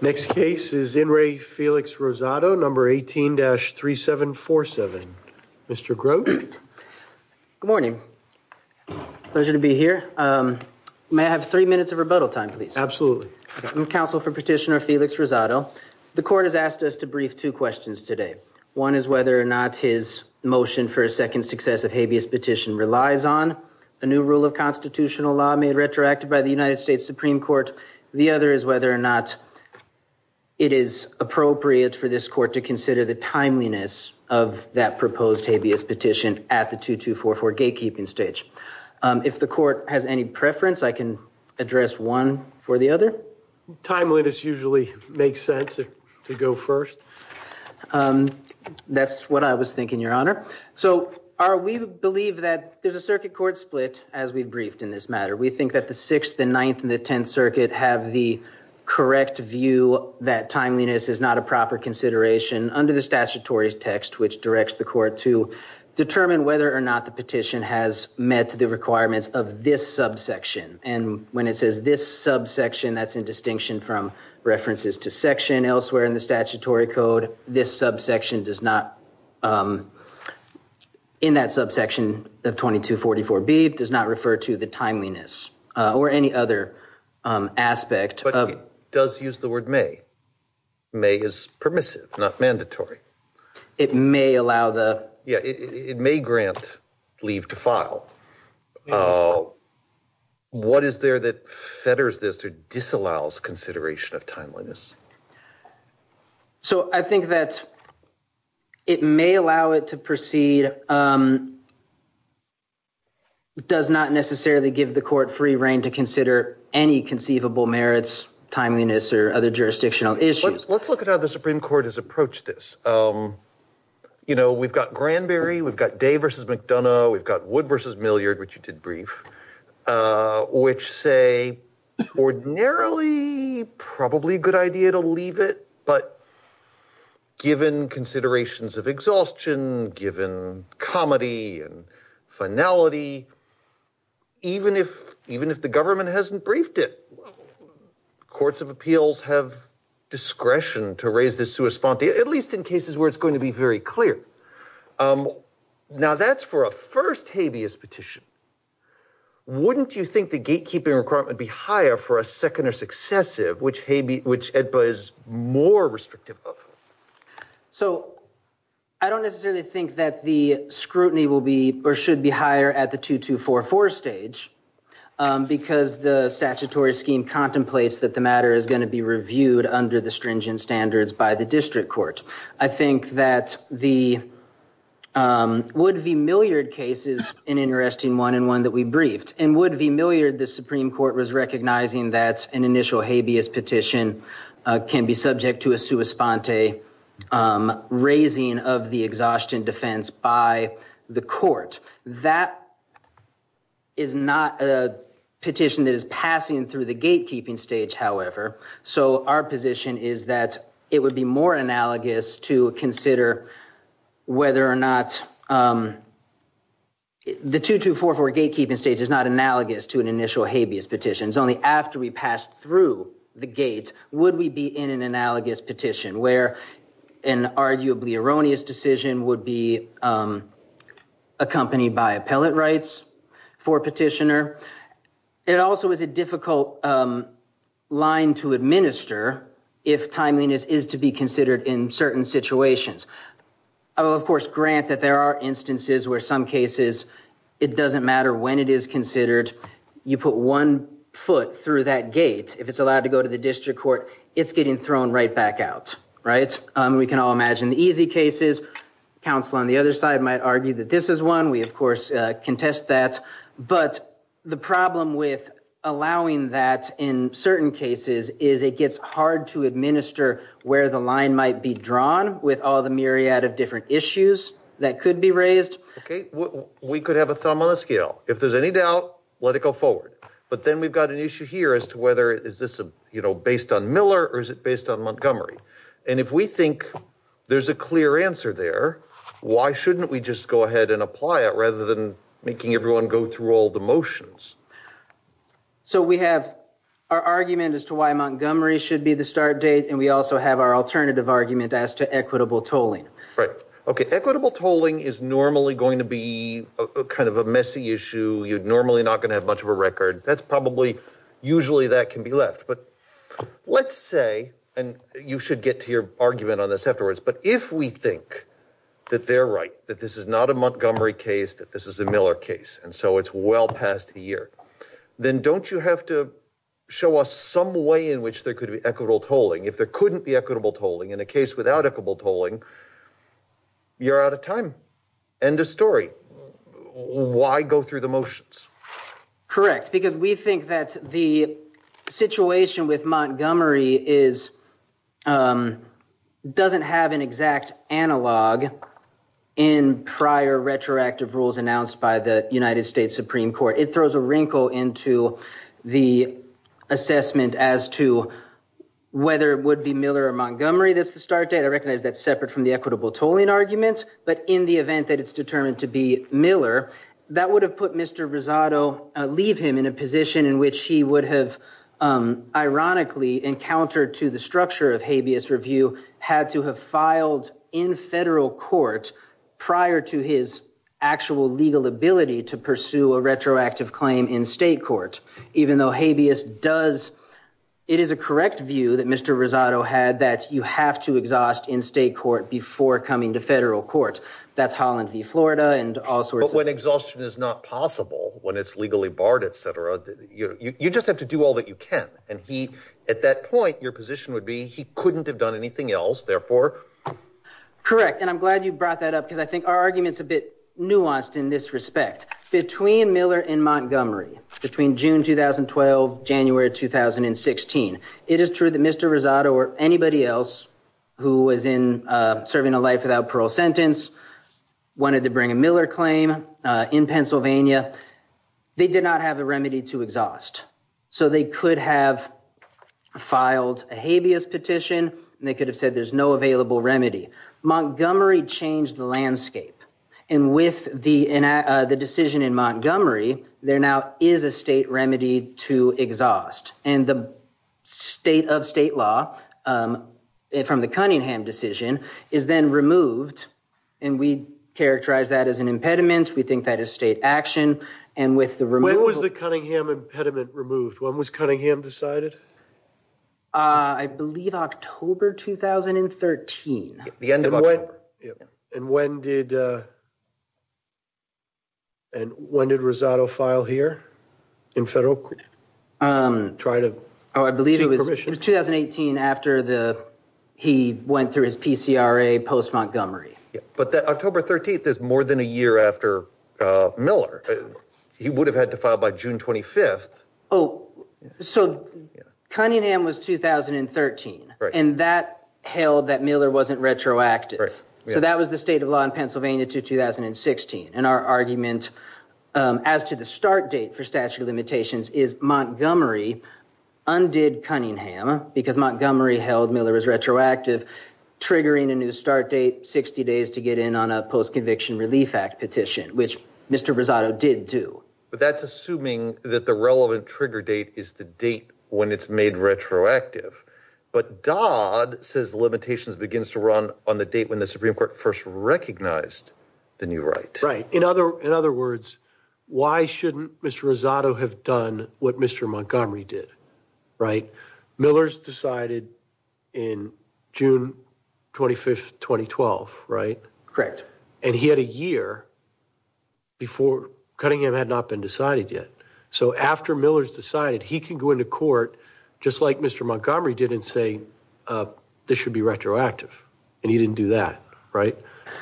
Next case is In Re Felix Rosado, number 18-3747. Mr. Grote. Good morning. Pleasure to be here. May I have three minutes of rebuttal time, please? Absolutely. I'm counsel for petitioner Felix Rosado. The court has asked us to brief two questions today. One is whether or not his motion for a second successive habeas petition relies on a new rule of constitutional law made retroactive by the United States Supreme Court. The other is whether or not it is appropriate for this court to consider the timeliness of that proposed habeas petition at the 2244 gatekeeping stage. If the court has any preference, I can address one for the other. Timeliness usually makes sense to go first. That's what I was thinking, Your Honor. So we believe that there's a circuit court split as we've briefed in this matter. We think that the 6th, the 9th, and the 10th Circuit have the correct view that timeliness is not a proper consideration under the statutory text, which directs the court to determine whether or not the petition has met the requirements of this subsection. And when it says this subsection, that's in distinction from references to section elsewhere in the statutory code. This subsection does not, in that subsection of 2244B, does not refer to the timeliness or any other aspect. But it does use the word may. May is permissive, not mandatory. It may allow the... Yeah, it may grant leave to file. What is there that fetters this or disallows consideration of timeliness? So I think that it may allow it to proceed. It does not necessarily give the court free reign to consider any conceivable merits, timeliness, or other jurisdictional issues. Let's look at how the Supreme Court has approached this. You know, we've got Granberry, we've got Day v. McDonough, we've got Wood v. Milliard, which you did brief, which say ordinarily, probably a good idea to leave it. But given considerations of exhaustion, given comedy and finality, even if the government hasn't briefed it, courts of appeals have discretion to raise this sui sponte, at least in cases where it's going to be very clear. Now, that's for a first habeas petition. Wouldn't you think the gatekeeping requirement would be higher for a second or successive, which Habeas, which EDPA is more restrictive of? So I don't necessarily think that the scrutiny will be or should be higher at the 2244 stage, because the statutory scheme contemplates that the matter is going to be reviewed under the stringent standards by the district court. I think that the Wood v. Milliard case is an interesting one and one that we briefed. In Wood v. Milliard, the Supreme Court was recognizing that an initial habeas petition can be subject to a sui sponte raising of the exhaustion defense by the court. That is not a petition that is passing through the gatekeeping stage, however. So our position is that it would be more analogous to consider whether or not the 2244 gatekeeping stage is not analogous to an initial habeas petition. Only after we pass through the gate would we be in an analogous petition, where an arguably erroneous decision would be accompanied by appellate rights for a petitioner. It also is a difficult line to administer if timeliness is to be considered in certain situations. I will, of course, grant that there are instances where some cases, it doesn't matter when it is considered, you put one foot through that gate, if it's allowed to go to the district court, it's getting thrown right back out, right? We can all imagine the easy cases. Council on the other side might argue that this is one. We, of course, contest that. But the problem with allowing that in certain cases is it gets hard to administer where the line might be drawn with all the myriad of different issues that could be raised. Okay, we could have a thumb on the scale. If there's any doubt, let it go forward. But then we've got an issue here as to whether is this, you know, based on Miller or is it based on Montgomery? And if we think there's a clear answer there, why shouldn't we just go ahead and apply it rather than making everyone go through all the motions? So we have our argument as to why Montgomery should be the start date, and we also have our alternative argument as to equitable tolling. Right. Okay. Equitable tolling is normally going to be kind of a messy issue. You're normally not going to have much of a record. That's probably, usually that can be left. But let's say, and you should get to your argument on this afterwards, but if we think that they're right, that this is not a Montgomery case, that this is a Miller case, and so it's well past a year, then don't you have to show us some way in which there could be equitable tolling? If there couldn't be equitable tolling in a case without equitable tolling, you're out of time. End of story. Why go through the motions? Correct. We think that the situation with Montgomery doesn't have an exact analog in prior retroactive rules announced by the United States Supreme Court. It throws a wrinkle into the assessment as to whether it would be Miller or Montgomery that's the start date. I recognize that's separate from the equitable tolling argument, but in the event that it's determined to be Miller, that would have put Mr. Rosado, leave him in a position in which he would have, ironically, encountered to the structure of habeas review, had to have filed in federal court prior to his actual legal ability to pursue a retroactive claim in state court. Even though habeas does, it is a correct view that Mr. Rosado had that you have to exhaust in state court before coming to federal court. That's Holland v. Florida and all sorts of- When exhaustion is not possible, when it's legally barred, et cetera, you just have to do all that you can. At that point, your position would be he couldn't have done anything else, therefore- Correct. I'm glad you brought that up because I think our argument's a bit nuanced in this respect. Between Miller and Montgomery, between June 2012, January 2016, it is true that Mr. Rosado or anybody else who was serving a life without parole sentence, wanted to bring a Miller claim in Pennsylvania, they did not have a remedy to exhaust. They could have filed a habeas petition and they could have said there's no available remedy. Montgomery changed the landscape. With the decision in Montgomery, there now is a state remedy to exhaust. The state of state law from the Cunningham decision is then removed. We characterize that as an impediment. We think that is state action. When was the Cunningham impediment removed? When was Cunningham decided? I believe October 2013. The end of October. When did Rosado file here in federal court? Try to- Oh, I believe it was 2018 after he went through his PCRA post Montgomery. But that October 13th is more than a year after Miller. He would have had to file by June 25th. Oh, so Cunningham was 2013. And that held that Miller wasn't retroactive. So that was the state of law in Pennsylvania to 2016. And our argument as to the start date for statute of limitations is Montgomery undid Cunningham because Montgomery held Miller was retroactive, triggering a new start date, 60 days to get in on a post-conviction relief act petition, which Mr. Rosado did do. But that's assuming that the relevant trigger date is the date when it's made retroactive. But Dodd says limitations begins to run on the date when the Supreme Court first recognized the new right. In other words, why shouldn't Mr. Rosado have done what Mr. Montgomery did, right? Miller's decided in June 25th, 2012, right? Correct. And he had a year before Cunningham had not been decided yet. So after Miller's decided, he can go into court just like Mr. Montgomery did and say, this should be retroactive. And he didn't do that, right?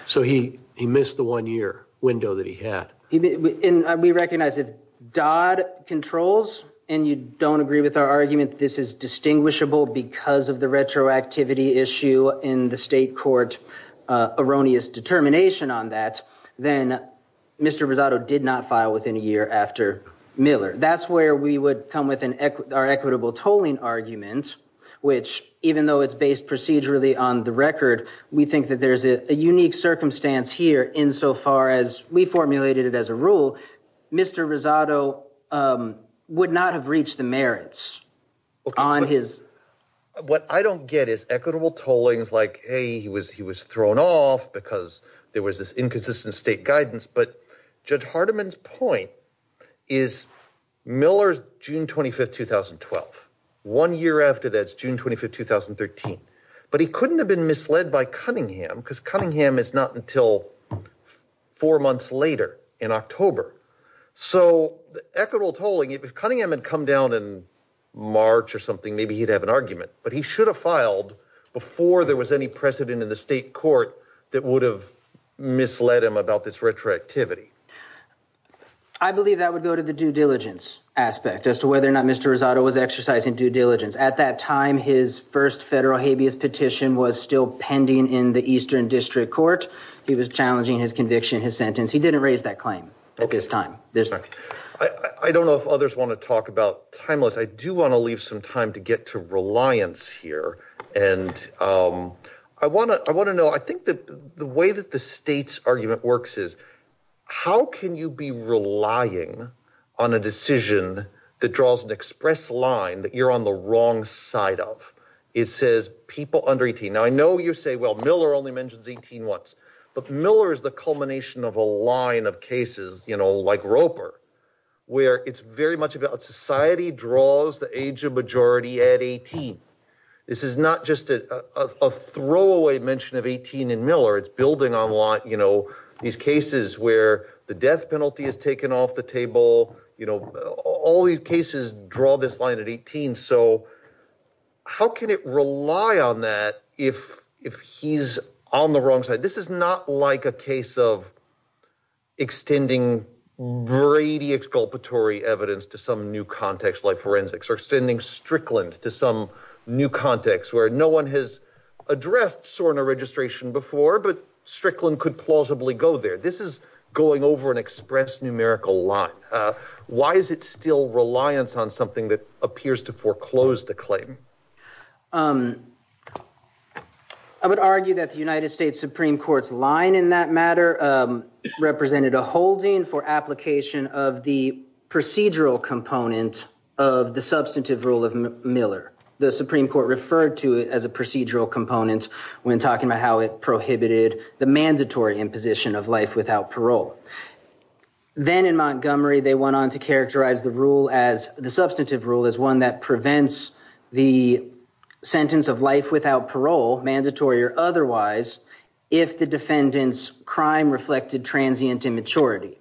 So he missed the one year window that he had. And we recognize if Dodd controls and you don't agree with our argument, this is distinguishable because of the retroactivity issue in the state court erroneous determination on that, then Mr. Rosado did not file within a year after Miller. That's where we would come with our equitable tolling argument, which even though it's based procedurally on the record, we think that there's a unique circumstance here insofar as we formulated it as a rule. Mr. Rosado would not have reached the merits on his... What I don't get is equitable tollings like, hey, he was thrown off because there was this inconsistent state guidance. But Judge Hardiman's point is Miller's June 25th, 2012. One year after that's June 25th, 2013. But he couldn't have been misled by Cunningham because Cunningham is not until four months later in October. So equitable tolling, if Cunningham had come down in March or something, maybe he'd have an argument, but he should have filed before there was any precedent in the state court that would have misled him about this retroactivity. I believe that would go to the due diligence aspect as to whether or not Mr. Rosado was exercising due diligence. At that time, his first federal habeas petition was still pending in the Eastern District Court. He was challenging his conviction, his sentence. He didn't raise that claim at this time. I don't know if others want to talk about timeless. I do want to leave some time to get to reliance here. And I want to know, I think that the way that the state's argument works is, how can you be relying on a decision that draws an express line that you're on the wrong side of? It says people under 18. Now, I know you say, well, Miller only mentions 18 once, but Miller is the culmination of a line of cases, you know, like Roper, where it's very much about society draws the age of majority at 18. This is not just a throwaway mention of 18 in Miller. It's building on a lot, you know, these cases where the death penalty is taken off the table. You know, all these cases draw this line at 18. So how can it rely on that if he's on the wrong side? This is not like a case of extending Brady exculpatory evidence to some new context like forensics or extending Strickland to some new context where no one has addressed SORNA registration before, but Strickland could plausibly go there. This is going over an express numerical line. Why is it still reliance on something that appears to foreclose the claim? I would argue that the United States Supreme Court's line in that matter represented a holding for application of the procedural component of the substantive rule of Miller. The Supreme Court referred to it as a procedural component when talking about how it prohibited the mandatory imposition of life without parole. Then in Montgomery, they went on to characterize the rule as the substantive rule is one that prevents the sentence of life without parole, mandatory or otherwise, if the defendant's crime reflected transient immaturity.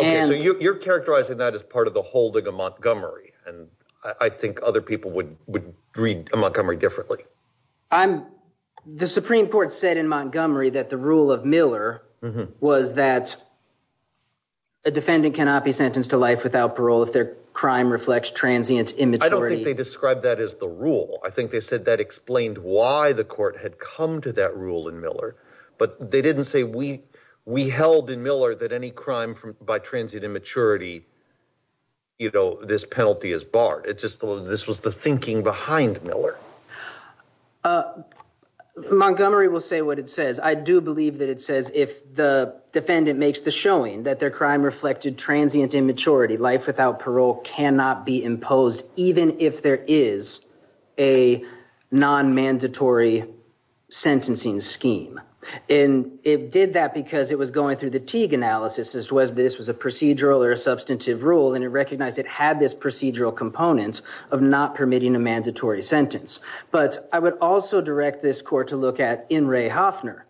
Okay, so you're characterizing that as part of the holding of Montgomery, and I think other people would read Montgomery differently. I'm... The Supreme Court said in Montgomery that the rule of Miller was that a defendant cannot be sentenced to life without parole if their crime reflects transient immaturity. I don't think they described that as the rule. I think they said that explained why the court had come to that rule in Miller, but they didn't say we held in Miller that any crime by transient immaturity, you know, this penalty is barred. It just, this was the thinking behind Miller. Uh, Montgomery will say what it says. I do believe that it says if the defendant makes the showing that their crime reflected transient immaturity, life without parole cannot be imposed, even if there is a non-mandatory sentencing scheme. And it did that because it was going through the Teague analysis as to whether this was a procedural or a substantive rule, and it recognized it had this procedural component of not permitting a mandatory sentence. But I would also direct this court to look at N. Ray Hofner.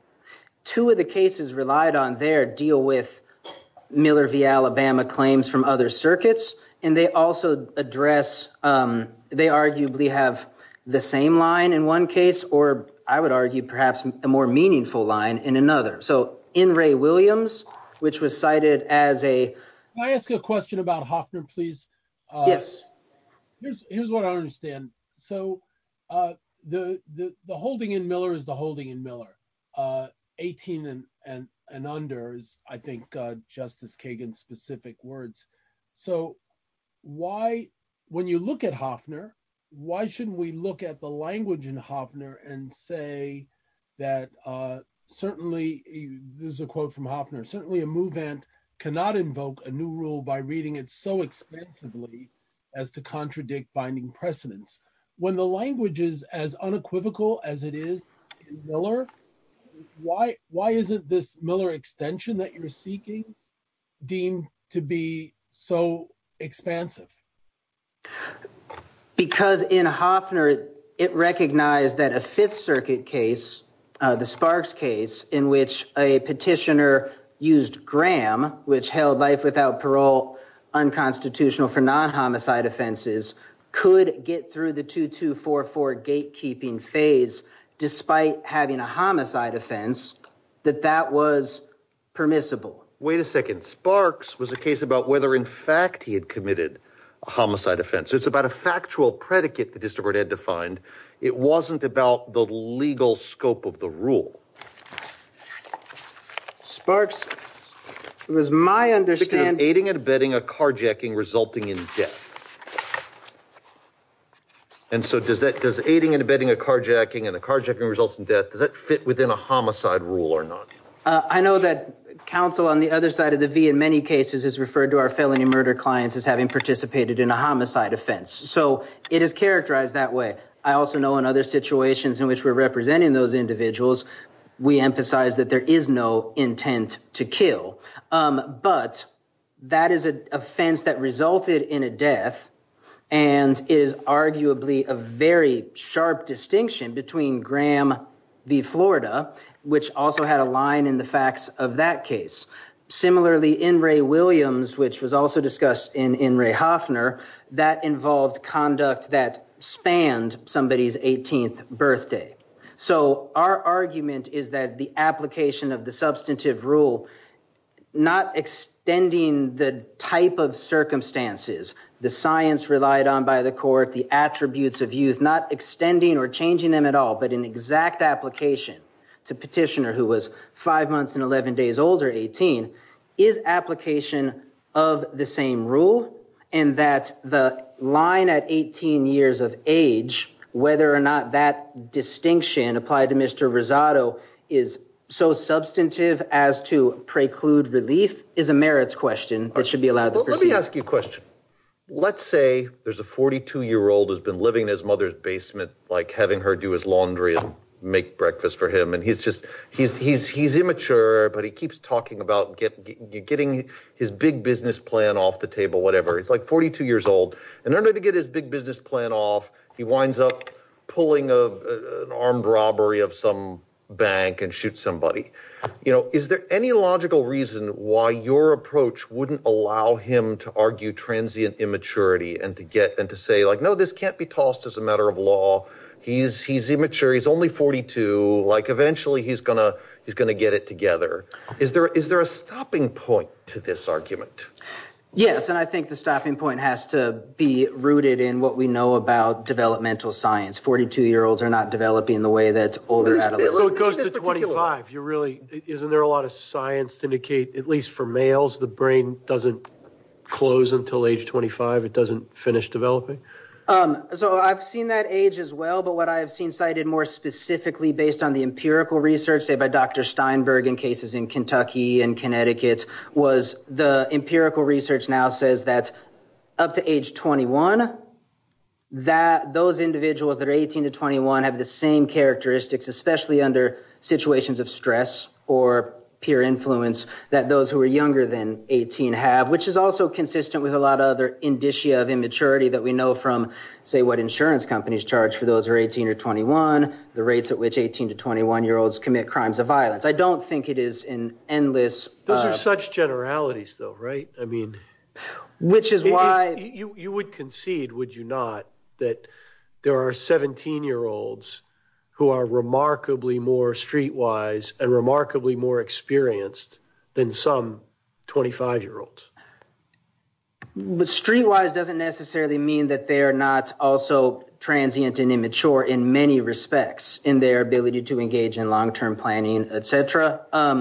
Two of the cases relied on their deal with Miller v. Alabama claims from other circuits, and they also address, um, they arguably have the same line in one case, or I would argue perhaps a more meaningful line in another. So N. Ray Williams, which was cited as a... Can I ask you a question about Hofner, please? Yes. Here's what I understand. So, uh, the holding in Miller is the holding in Miller. Uh, 18 and under is, I think, Justice Kagan's specific words. So why, when you look at Hofner, why shouldn't we look at the language in Hofner and say that, uh, certainly, this is a quote from Hofner, certainly a movement cannot invoke a new rule by reading it so extensively as to contradict binding precedents. When the language is as unequivocal as it is in Miller, why, why isn't this Miller extension that you're seeking deemed to be so expansive? Because in Hofner, it recognized that a Fifth Circuit case, the Sparks case, in which a petitioner used Graham, which held life without parole unconstitutional for non-homicide offenses, could get through the 2244 gatekeeping phase, despite having a homicide offense, that that was permissible. Wait a second. Sparks was a case about whether, in fact, he had committed a homicide offense. So it's about a factual predicate the distributor had defined. It wasn't about the legal scope of the rule. So Sparks, it was my understanding. Aiding and abetting a carjacking resulting in death. And so does that, does aiding and abetting a carjacking and the carjacking results in death, does that fit within a homicide rule or not? I know that counsel on the other side of the V in many cases is referred to our felony murder clients as having participated in a homicide offense. So it is characterized that way. I also know in other situations in which we're representing those individuals, we emphasize that there is no intent to kill. But that is an offense that resulted in a death. And it is arguably a very sharp distinction between Graham v. Florida, which also had a line in the facts of that case. Similarly, in Ray Williams, which was also discussed in Ray Hoffner, that involved conduct that spanned somebody's 18th birthday. So our argument is that the application of the substantive rule, not extending the type of circumstances, the science relied on by the court, the attributes of youth, not extending or changing them at all, but an exact application to petitioner who was 5 months and 11 days old or 18, is application of the same rule. And that the line at 18 years of age, whether or not that distinction applied to Mr. Rosado is so substantive as to preclude relief is a merits question that should be allowed. But let me ask you a question. Let's say there's a 42 year old has been living in his mother's basement, like having her do his laundry and make breakfast for him. And he's immature, but he keeps talking about getting his big business plan off the table, it's like 42 years old. And in order to get his big business plan off, he winds up pulling an armed robbery of some bank and shoot somebody. Is there any logical reason why your approach wouldn't allow him to argue transient immaturity and to say like, no, this can't be tossed as a matter of law. He's immature, he's only 42, eventually he's going to get it together. Is there a stopping point to this argument? Yes. And I think the stopping point has to be rooted in what we know about developmental science. 42 year olds are not developing the way that's older adults. So it goes to 25. Isn't there a lot of science to indicate, at least for males, the brain doesn't close until age 25, it doesn't finish developing? So I've seen that age as well. But what I've seen cited more specifically based on the empirical research, say by Dr. Steinberg in cases in Kentucky and Connecticut, was the empirical research now says that up to age 21, those individuals that are 18 to 21 have the same characteristics, especially under situations of stress or peer influence, that those who are younger than 18 have, which is also consistent with a lot of other indicia of immaturity that we know from, say, what insurance companies charge for those who are 18 or 21, I don't think it is an endless... Those are such generalities though, right? Which is why... You would concede, would you not, that there are 17 year olds who are remarkably more streetwise and remarkably more experienced than some 25 year olds. But streetwise doesn't necessarily mean that they are not also transient and immature in many ways. But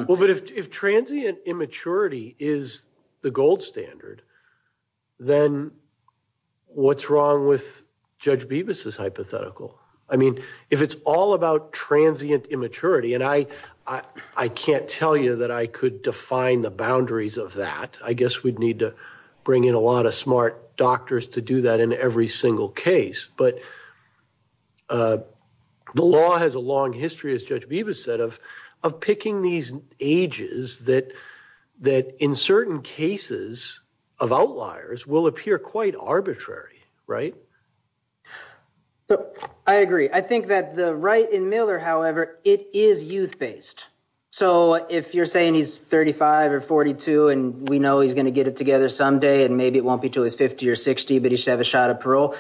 if transient immaturity is the gold standard, then what's wrong with Judge Bibas' hypothetical? I mean, if it's all about transient immaturity, and I can't tell you that I could define the boundaries of that. I guess we'd need to bring in a lot of smart doctors to do that in every single case. But the law has a long history, as Judge Bibas said, of picking these ages that in certain cases of outliers will appear quite arbitrary, right? I agree. I think that the right in Miller, however, it is youth-based. So if you're saying he's 35 or 42, and we know he's going to get it together someday, and maybe it won't be until he's 50 or 60, but he should have a shot at parole.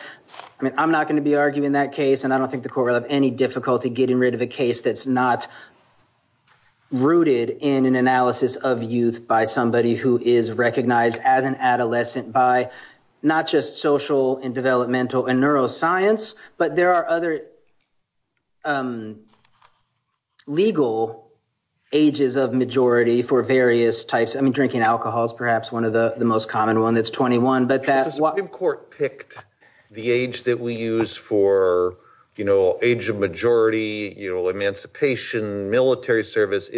I mean, I'm not going to be arguing that case, and I don't think the court will have any difficulty getting rid of a case that's not rooted in an analysis of youth by somebody who is recognized as an adolescent by not just social and developmental and neuroscience, but there are other legal ages of majority for various types. I mean, drinking alcohol is perhaps one of the most common ones. It's 21, but that's what- The age that we use for age of majority, emancipation, military service.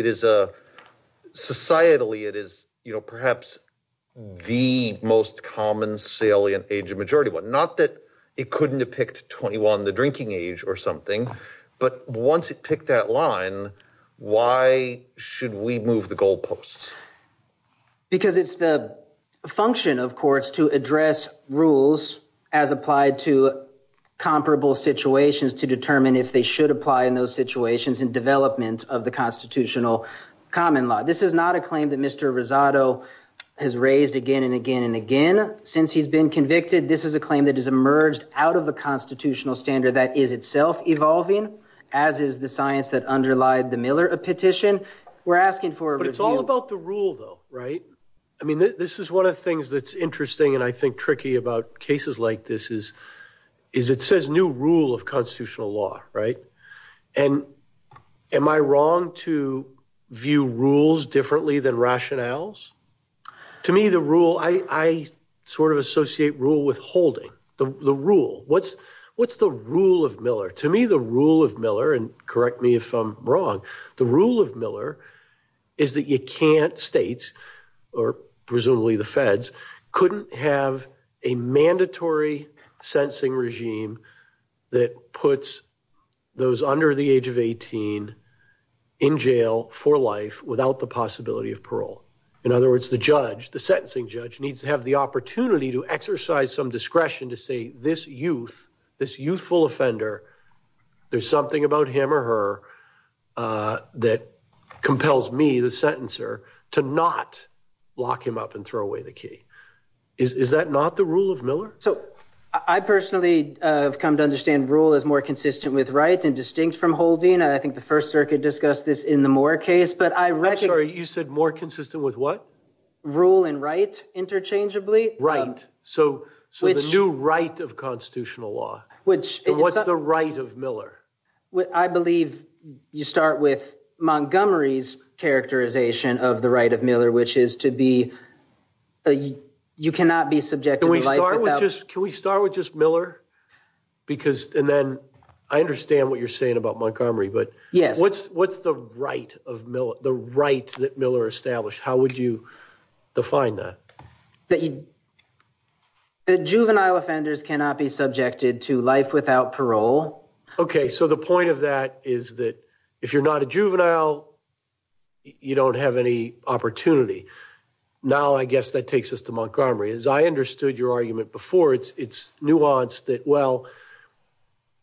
Societally, it is perhaps the most common salient age of majority. Not that it couldn't have picked 21, the drinking age or something, but once it picked that line, why should we move the goalposts? Because it's the function of courts to address rules as applied to comparable situations to determine if they should apply in those situations in development of the constitutional common law. This is not a claim that Mr. Rosado has raised again and again and again. Since he's been convicted, this is a claim that has emerged out of a constitutional standard that is itself evolving, as is the science that underlied the Miller petition. We're asking for a review. But it's all about the rule though, right? I mean, this is one of the things that's interesting and I think tricky about cases like this is it says new rule of constitutional law, right? And am I wrong to view rules differently than rationales? To me, the rule, I sort of associate rule with holding, the rule. What's the rule of Miller? To me, the rule of Miller, and correct me if I'm wrong, the rule of Miller is that you can't, states, or presumably the feds, couldn't have a mandatory sentencing regime that puts those under the age of 18 in jail for life without the possibility of parole. In other words, the judge, the sentencing judge, needs to have the opportunity to exercise some discretion to say this youth, this youthful offender, there's something about him or her that compels me, the sentencer, to not lock him up and throw away the key. Is that not the rule of Miller? So, I personally have come to understand rule is more consistent with right and distinct from holding. I think the First Circuit discussed this in the Moore case, but I reckon- I'm sorry, you said more consistent with what? Rule and right interchangeably. Right. So, the new right of constitutional law. Which- What's the right of Miller? I believe you start with Montgomery's characterization of the right of Miller, which is to be- you cannot be subjected to life without- Can we start with just Miller? And then, I understand what you're saying about Montgomery, but- Yes. What's the right that Miller established? How would you define that? That juvenile offenders cannot be subjected to life without parole. Okay. So, the point of that is that if you're not a juvenile, you don't have any opportunity. Now, I guess that takes us to Montgomery. As I understood your argument before, it's nuanced that, well,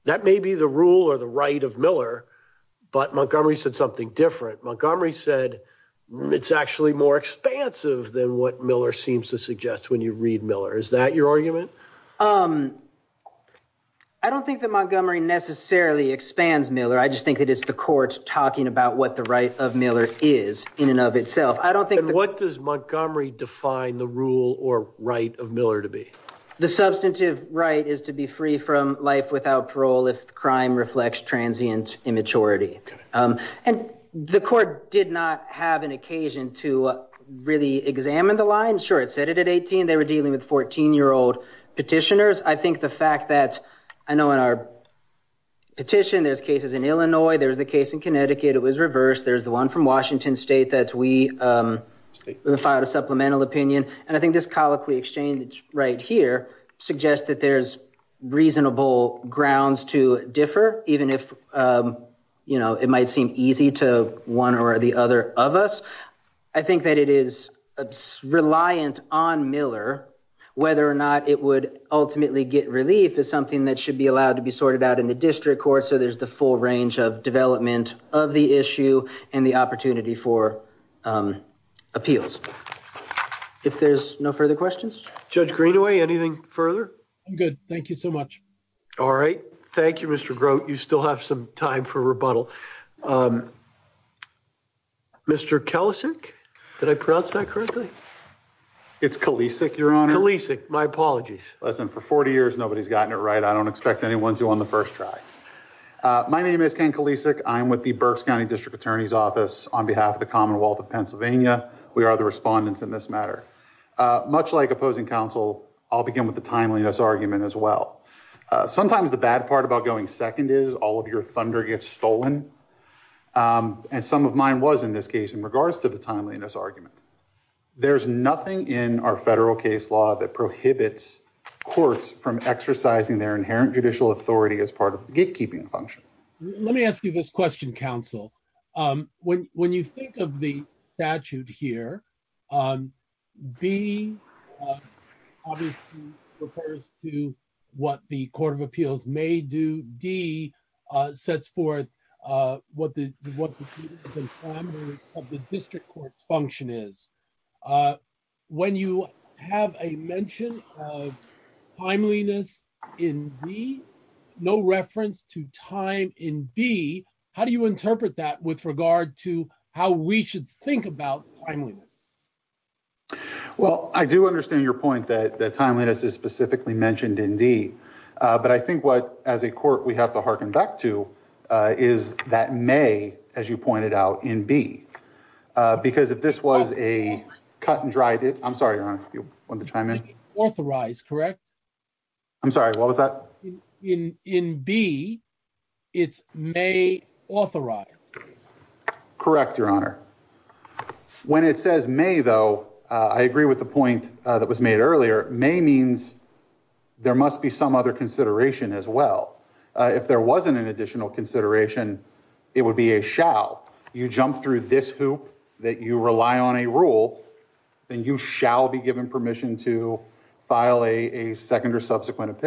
that may be the rule or the right of Miller, but Montgomery said something different. Montgomery said it's actually more expansive than what Miller seems to suggest when you read Miller. Is that your argument? I don't think that Montgomery necessarily expands Miller. I just think that it's the courts talking about what the right of Miller is in and of itself. I don't think- What does Montgomery define the rule or right of Miller to be? The substantive right is to be free from life without parole if crime reflects transient immaturity. And the court did not have an occasion to really examine the line. Sure, it said it at 18. They were dealing with 14-year-old petitioners. I think the fact that I know in our petition, there's cases in Illinois. There was the case in Connecticut. It was reversed. There's the one from Washington State that we filed a supplemental opinion. And I think this colloquy exchange right here suggests that there's reasonable grounds to it might seem easy to one or the other of us. I think that it is reliant on Miller. Whether or not it would ultimately get relief is something that should be allowed to be sorted out in the district court. So there's the full range of development of the issue and the opportunity for appeals. If there's no further questions. Judge Greenaway, anything further? Good. Thank you so much. All right. Thank you, Mr. Grote. You still have some time for rebuttal. Mr. Kalisic? Did I pronounce that correctly? It's Kalisic, Your Honor. Kalisic. My apologies. Listen, for 40 years, nobody's gotten it right. I don't expect anyone to on the first try. My name is Ken Kalisic. I'm with the Berks County District Attorney's Office on behalf of the Commonwealth of Pennsylvania. We are the respondents in this matter. Much like opposing counsel, I'll begin with the timeliness argument as well. Sometimes the bad part about going second is all of your thunder gets stolen. And some of mine was in this case in regards to the timeliness argument. There's nothing in our federal case law that prohibits courts from exercising their inherent judicial authority as part of gatekeeping function. Let me ask you this question, counsel. When you think of the statute here, B obviously refers to what the Court of Appeals may do. D sets forth what the district court's function is. When you have a mention of timeliness in B, no reference to time in B, how do you interpret that with regard to how we should think about timeliness? Well, I do understand your point that timeliness is specifically mentioned in D, but I think what as a court we have to hearken back to is that may, as you pointed out in B, because if this was a cut and dry, I'm sorry, Your Honor, if you want to chime in. Authorized, correct? I'm sorry, what was that? In B, it's may authorize. Correct, Your Honor. When it says may, though, I agree with the point that was made earlier. May means there must be some other consideration as well. If there wasn't an additional consideration, it would be a shall. You jump through this hoop that you rely on a rule, then you shall be given permission to file a second or subsequent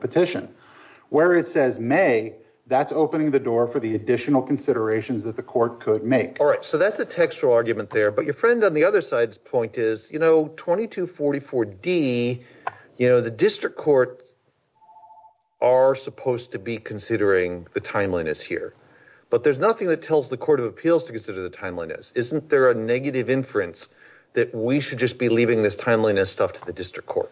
petition. Where it says may, that's opening the door for the additional considerations that the court could make. All right, so that's a textual argument there, but your friend on the other side's point is, you know, 2244 D, you know, the district court are supposed to be considering the timeliness here, but there's nothing that tells the court of appeals to consider the timeliness. Isn't there a negative inference that we should just be leaving this timeliness stuff to the district court?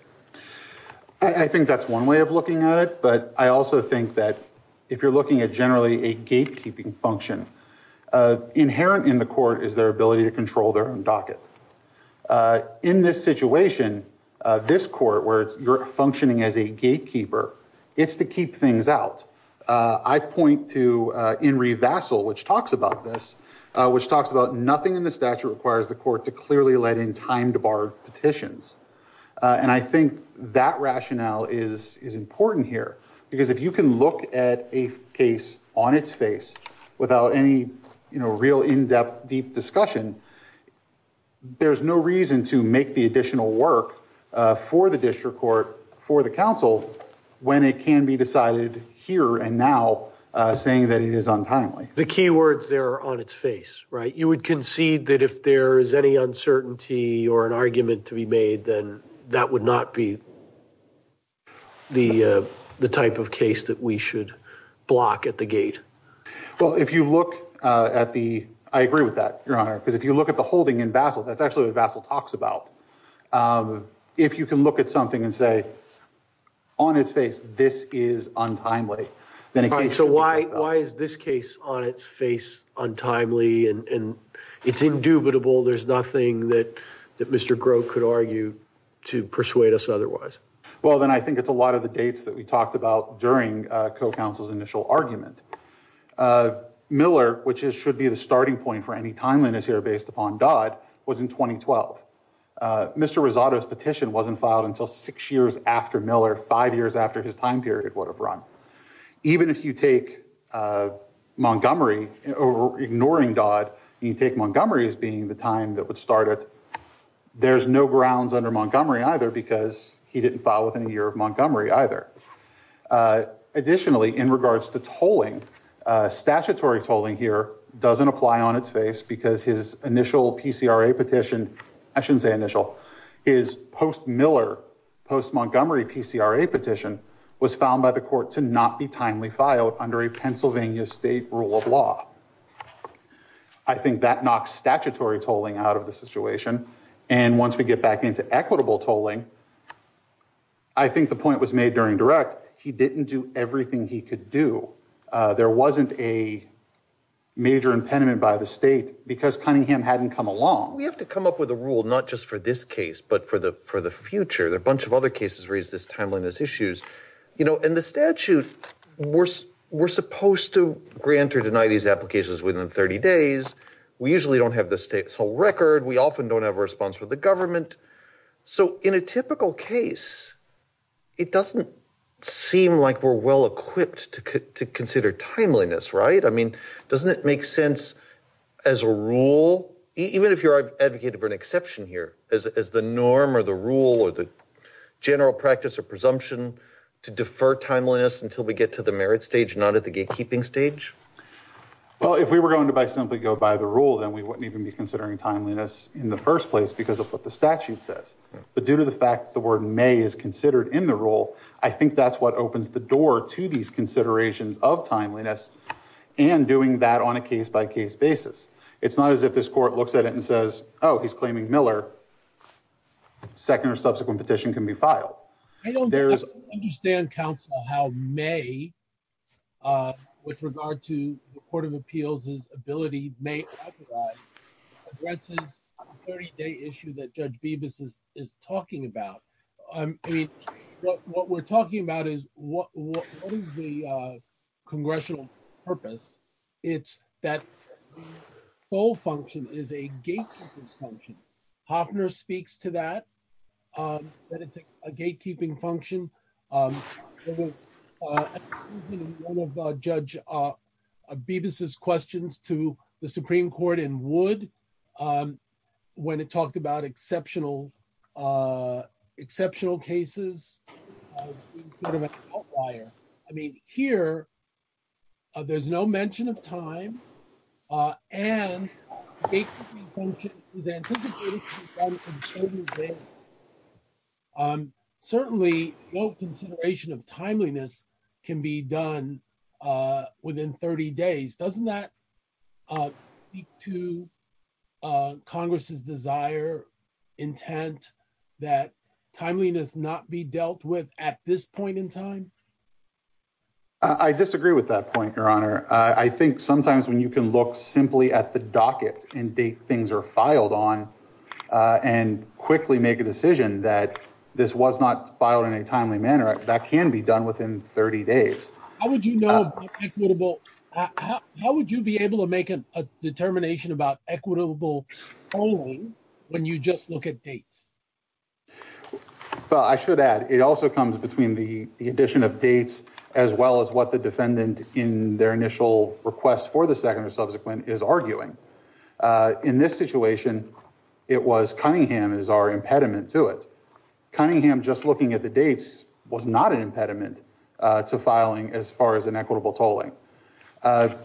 I think that's one way of looking at it, but I also think that if you're looking at generally a gatekeeping function, inherent in the court is their ability to control their own docket. In this situation, this court where you're functioning as a gatekeeper, it's to keep things out. I point to Inree Vassal, which talks about this, which talks about nothing in the statute requires the court to clearly let in time to bar petitions. And I think that rationale is important here, because if you can look at a case on its face without any, you know, real in-depth deep discussion, there's no reason to make the additional work for the district court, for the council, when it can be decided here and now saying that it is untimely. The key words there are on its face, right? You would concede that if there is any uncertainty or an argument to be made, then that would not be the type of case that we should block at the gate. Well, if you look at the, I agree with that, Your Honor, because if you look at the holding in Vassal, that's actually what Vassal talks about. If you can look at something and say, on its face, this is untimely. So why is this case on its face untimely and it's indubitable? There's nothing that Mr. Groh could argue to persuade us otherwise. Well, then I think it's a lot of the dates that we talked about during co-counsel's initial argument. Miller, which should be the starting point for any timeliness here, based upon Dodd, was in 2012. Mr. Rosado's petition wasn't filed until six years after Miller, five years after his time period would have run. Even if you take Montgomery, or ignoring Dodd, you take Montgomery as being the time that would start it, there's no grounds under Montgomery either because he didn't file within a year of Montgomery either. Additionally, in regards to tolling, statutory tolling here doesn't apply on its face because his initial PCRA petition, I shouldn't say initial, his post-Miller, post-Montgomery PCRA petition was found by the court to not be timely filed under a Pennsylvania state rule of law. I think that knocks statutory tolling out of the situation. And once we get back into equitable tolling, I think the point was made during direct. He didn't do everything he could do. There wasn't a major impediment by the state because Cunningham hadn't come along. We have to come up with a rule, not just for this case, but for the future. A bunch of other cases raise this timeliness issues. And the statute, we're supposed to grant or deny these applications within 30 days. We usually don't have the state's whole record. We often don't have a response from the government. So in a typical case, it doesn't seem like we're well-equipped to consider timeliness, right? I mean, doesn't it make sense as a rule, even if you're advocating for an exception here, as the norm or the rule or the general practice or presumption to defer timeliness until we get to the merit stage, not at the gatekeeping stage? Well, if we were going to by simply go by the rule, then we wouldn't even be considering timeliness in the first place because of what the statute says. But due to the fact that the word may is considered in the rule, I think that's what opens the door to these considerations of timeliness and doing that on a case-by-case basis. It's not as if this court looks at it and says, oh, he's claiming Miller. Second or subsequent petition can be filed. I don't understand, counsel, how may, with regard to the Court of Appeals' ability, may authorize addresses the 30-day issue that Judge Bibas is talking about. I mean, what we're talking about is what is the congressional purpose? It's that the full function is a gatekeeping function. Hofner speaks to that, that it's a gatekeeping function. It was one of Judge Bibas's questions to the Supreme Court in Wood when it talked about exceptional cases being sort of an outlier. I mean, here, there's no mention of time and the gatekeeping function is anticipated to be done on a certain date. Certainly, no consideration of timeliness can be done within 30 days. Doesn't that speak to Congress's desire, intent that timeliness not be dealt with at this point in time? I disagree with that point, Your Honor. I think sometimes when you can look simply at the docket and date things are filed on and quickly make a decision that this was not filed in a timely manner, that can be done within 30 days. How would you be able to make a determination about equitable polling when you just look at dates? Well, I should add, it also comes between the addition of dates as well as what the defendant in their initial request for the second or subsequent is arguing. In this situation, it was Cunningham is our impediment to it. Cunningham just looking at the dates was not an impediment to filing as far as an equitable tolling.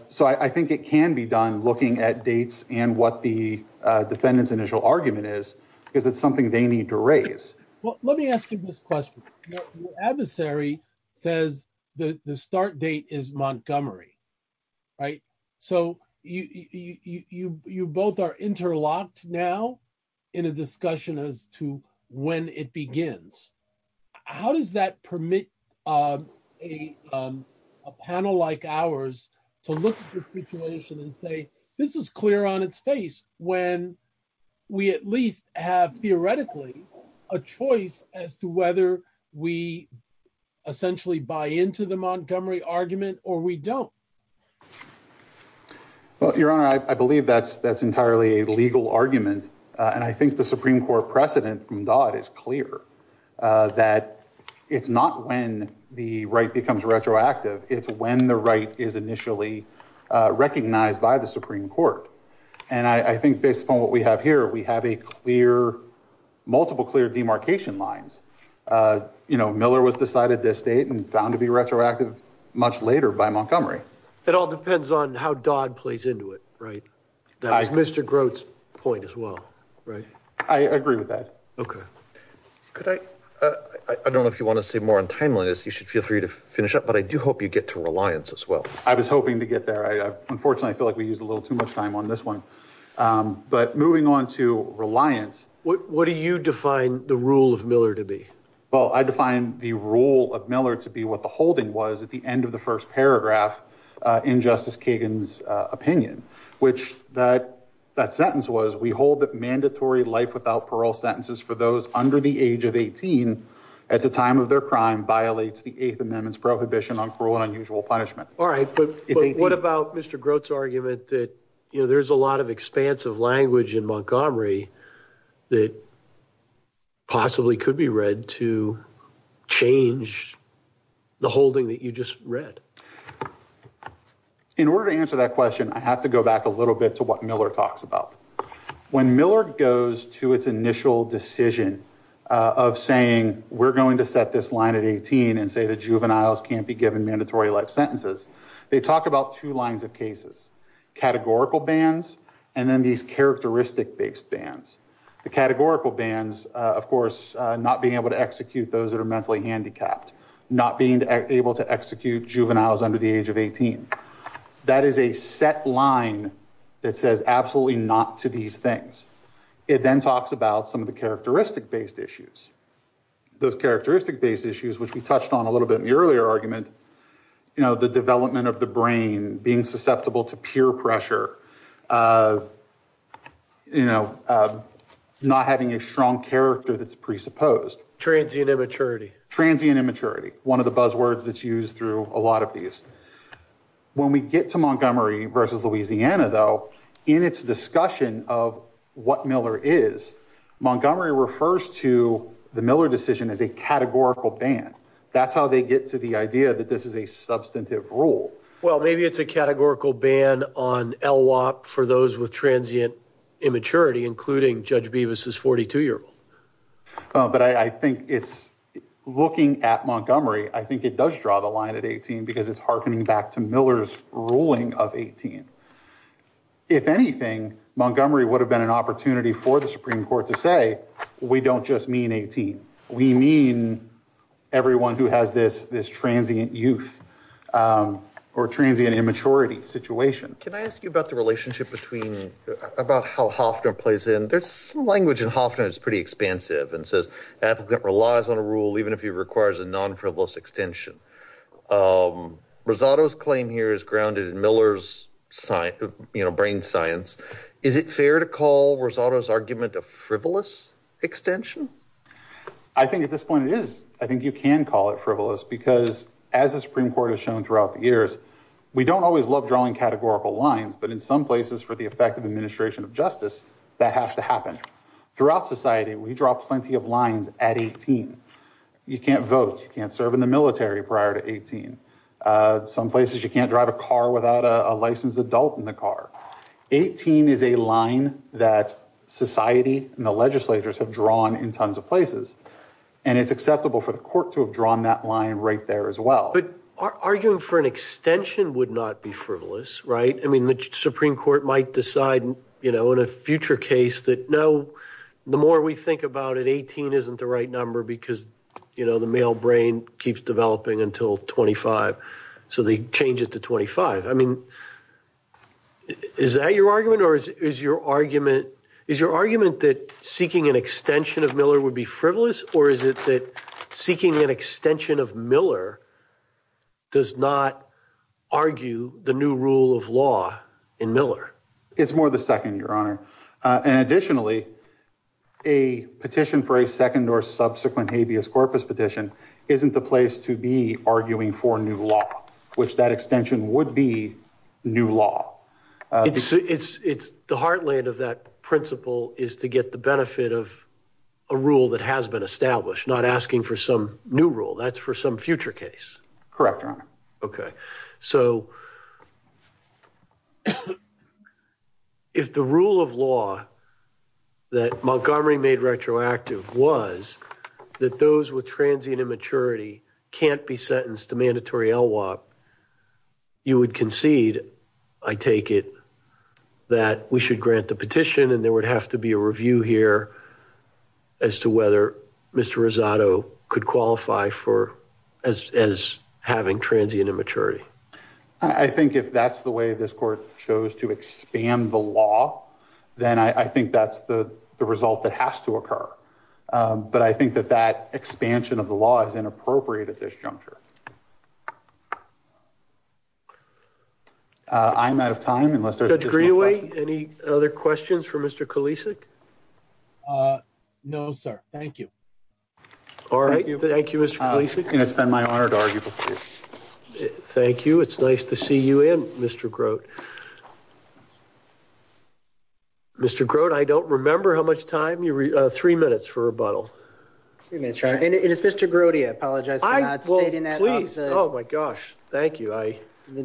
So I think it can be done looking at dates and what the defendant's initial argument is because it's something they need to raise. Well, let me ask you this question. Your adversary says the start date is Montgomery, right? So you both are interlocked now in a discussion as to when it begins. How does that permit a panel like ours to look at the situation and say, this is clear on its face when we at least have theoretically a choice as to whether we essentially buy into the Montgomery argument or we don't? Well, Your Honor, I believe that's entirely a legal argument. And I think the Supreme Court precedent from Dodd is clear that it's not when the right becomes retroactive, it's when the right is initially recognized by the Supreme Court. And I think based upon what we have here, we have a clear, multiple clear demarcation lines. You know, Miller was decided this date and found to be retroactive much later by Montgomery. It all depends on how Dodd plays into it, right? That was Mr. Grote's point as well, right? I agree with that. Okay. Could I, I don't know if you want to say more on timeliness. You should feel free to finish up. I do hope you get to reliance as well. I was hoping to get there. Unfortunately, I feel like we use a little too much time on this one. But moving on to reliance, what do you define the rule of Miller to be? Well, I define the rule of Miller to be what the holding was at the end of the first paragraph in Justice Kagan's opinion, which that sentence was, we hold that mandatory life without parole sentences for those under the age of 18, at the time of their crime, violates the Eighth Amendment's prohibition on parole and unusual punishment. All right, but what about Mr. Grote's argument that, you know, there's a lot of expansive language in Montgomery that possibly could be read to change the holding that you just read? In order to answer that question, I have to go back a little bit to what Miller talks about. When Miller goes to its initial decision of saying, we're going to set this line at 18 and say that juveniles can't be given mandatory life sentences, they talk about two lines of cases, categorical bans, and then these characteristic-based bans. The categorical bans, of course, not being able to execute those that are mentally handicapped, not being able to execute juveniles under the age of 18. That is a set line that says absolutely not to these things. It then talks about some of the characteristic-based issues. Those characteristic-based issues, which we touched on a little bit in the earlier argument, you know, the development of the brain, being susceptible to peer pressure, you know, not having a strong character that's presupposed. Transient immaturity. Transient immaturity. One of the buzzwords that's used through a lot of these. When we get to Montgomery versus Louisiana, though, in its discussion of what Miller is, Montgomery refers to the Miller decision as a categorical ban. That's how they get to the idea that this is a substantive rule. Well, maybe it's a categorical ban on LWOP for those with transient immaturity, including Judge Bevis's 42-year-old. But I think it's looking at Montgomery, I think it does draw the line at 18 because it's hearkening back to Miller's ruling of 18. If anything, Montgomery would have been an opportunity for the Supreme Court to say, we don't just mean 18. We mean everyone who has this transient youth or transient immaturity situation. Can I ask you about the relationship between, about how Hofner plays in? There's some language in Hofner that's pretty expansive and says the applicant relies on a rule even if he requires a non-frivolous extension. Rosato's claim here is grounded in Miller's brain science. Is it fair to call Rosato's argument a frivolous extension? I think at this point it is. I think you can call it frivolous because as the Supreme Court has shown throughout the years, we don't always love drawing categorical lines, but in some places for the effect of administration of justice, that has to happen. Throughout society, we draw plenty of lines at 18. You can't vote. You can't serve in the military prior to 18. Some places you can't drive a car without a licensed adult in the car. 18 is a line that society and the legislatures have drawn in tons of places, and it's acceptable for the court to have drawn that line right there as well. But arguing for an extension would not be frivolous, right? I mean, the Supreme Court might decide in a future case that no, the more we think about it, 18 isn't the right number because the male brain keeps developing until 25. So they change it to 25. I mean, is that your argument? Or is your argument that seeking an extension of Miller would be frivolous? Or is it that seeking an extension of Miller does not argue the new rule of law in Miller? It's more the second, Your Honor. And additionally, a petition for a second or subsequent habeas corpus petition isn't the place to be arguing for new law, which that extension would be new law. It's the heartland of that principle is to get the benefit of a rule that has been established, not asking for some new rule. That's for some future case. Correct, Your Honor. Okay, so if the rule of law that Montgomery made retroactive was that those with transient immaturity can't be sentenced to mandatory LWOP, you would concede, I take it, that we should grant the petition and there would have to be a review here as to whether Mr. Rosado could qualify as having transient immaturity. I think if that's the way this court chose to expand the law, then I think that's the result that has to occur. But I think that that expansion of the law is inappropriate at this juncture. I'm out of time. Judge Greenaway, any other questions for Mr. Kalisic? No, sir. Thank you. All right, thank you, Mr. Kalisic. And it's been my honor to argue before you. Thank you. It's nice to see you in, Mr. Grote. Mr. Grote, I don't remember how much time you, three minutes for rebuttal. Three minutes, Your Honor. And it's Mr. Grote, I apologize for not stating that. Please, oh my gosh, thank you. I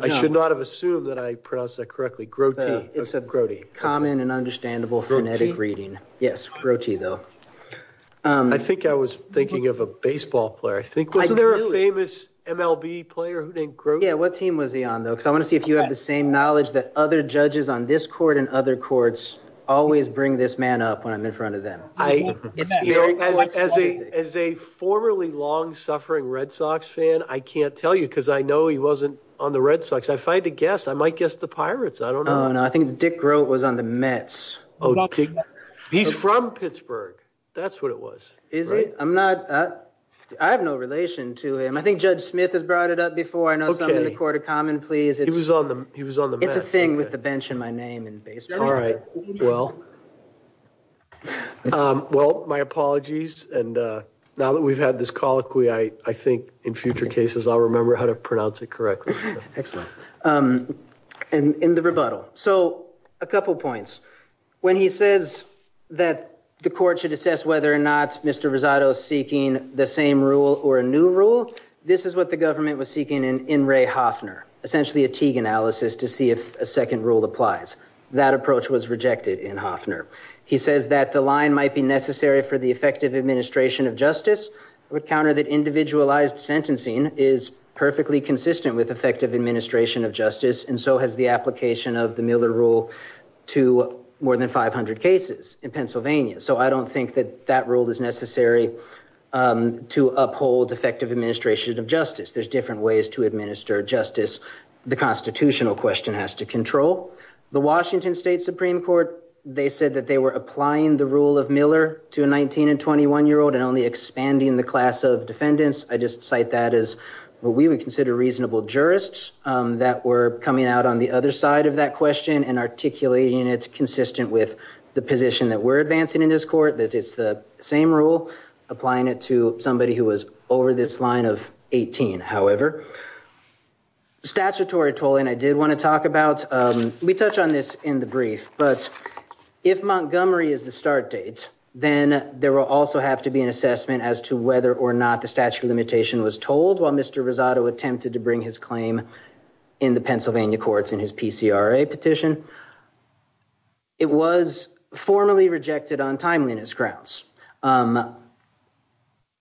should not have assumed that I pronounced that correctly, Grote. It's a common and understandable phonetic reading. Yes, Grote, though. I think I was thinking of a baseball player, I think. Wasn't there a famous MLB player named Grote? Yeah, what team was he on, though? Because I want to see if you have the same knowledge that other judges on this court and other courts always bring this man up when I'm in front of them. As a formerly long-suffering Red Sox fan, I can't tell you because I know he wasn't on the Red Sox. If I had to guess, I might guess the Pirates. I don't know. I think Dick Grote was on the Mets. He's from Pittsburgh. That's what it was. Is he? I'm not, I have no relation to him. I think Judge Smith has brought it up before. I know some in the Court of Common Pleas. He was on the Mets. It's a thing with the bench and my name and baseball. All right, well, my apologies. And now that we've had this colloquy, I think in future cases, I'll remember how to pronounce it correctly. Excellent. And in the rebuttal, so a couple points. When he says that the court should assess whether or not Mr. Rosado is seeking the same rule or a new rule, this is what the government was seeking in Ray Hoffner, essentially a Teague analysis to see if a second rule applies. That approach was rejected in Hoffner. He says that the line might be necessary for the effective administration of justice. I would counter that individualized sentencing is perfectly consistent with effective administration of justice and so has the application of the Miller rule to more than 500 cases in Pennsylvania. So I don't think that that rule is necessary to uphold effective administration of justice. There's different ways to administer justice. The constitutional question has to control. The Washington State Supreme Court, they said that they were applying the rule of Miller to a 19 and 21 year old and only expanding the class of defendants. I just cite that as what we would consider reasonable jurists that were coming out on the other side of that question and articulating it consistent with the position that we're advancing in this court, that it's the same rule, applying it to somebody who was over this line of 18. However, statutory tolling, I did wanna talk about, we touch on this in the brief, but if Montgomery is the start date, then there will also have to be an assessment as to whether or not the statute of limitation was told while Mr. Rosado attempted to bring his claim in the Pennsylvania courts in his PCRA petition. It was formally rejected on timeliness grounds.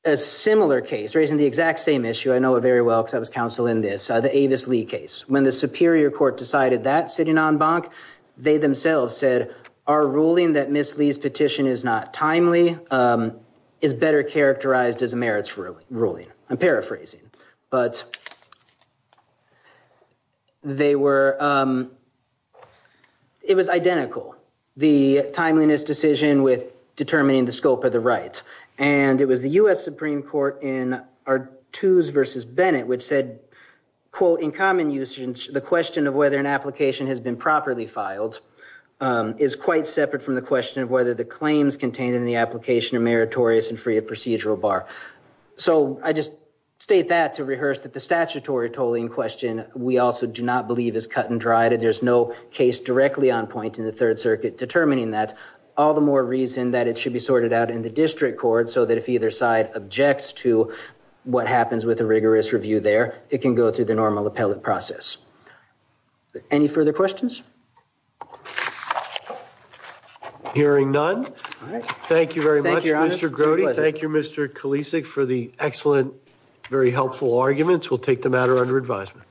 A similar case, raising the exact same issue, I know it very well because I was counsel in this, the Avis Lee case. When the Superior Court decided that sitting en banc, they themselves said, our ruling that Ms. Lee's petition is not timely is better characterized as a merits ruling. I'm paraphrasing. But it was identical, the timeliness decision with determining the scope of the rights. And it was the U.S. Supreme Court in Artoos versus Bennett, which said, quote, in common usage, the question of whether an application has been properly filed is quite separate from the question of whether the claims contained in the application are meritorious and free of procedural bar. So I just state that to rehearse that the statutory tolling question, we also do not believe is cut and dried. And there's no case directly on point in the Third Circuit determining that. All the more reason that it should be sorted out in the district court so that if either side objects to what happens with a rigorous review there, it can go through the normal appellate process. Any further questions? I'm hearing none. Thank you very much, Mr. Grody. Thank you, Mr. Kulisic, for the excellent, very helpful arguments. We'll take the matter under advisement.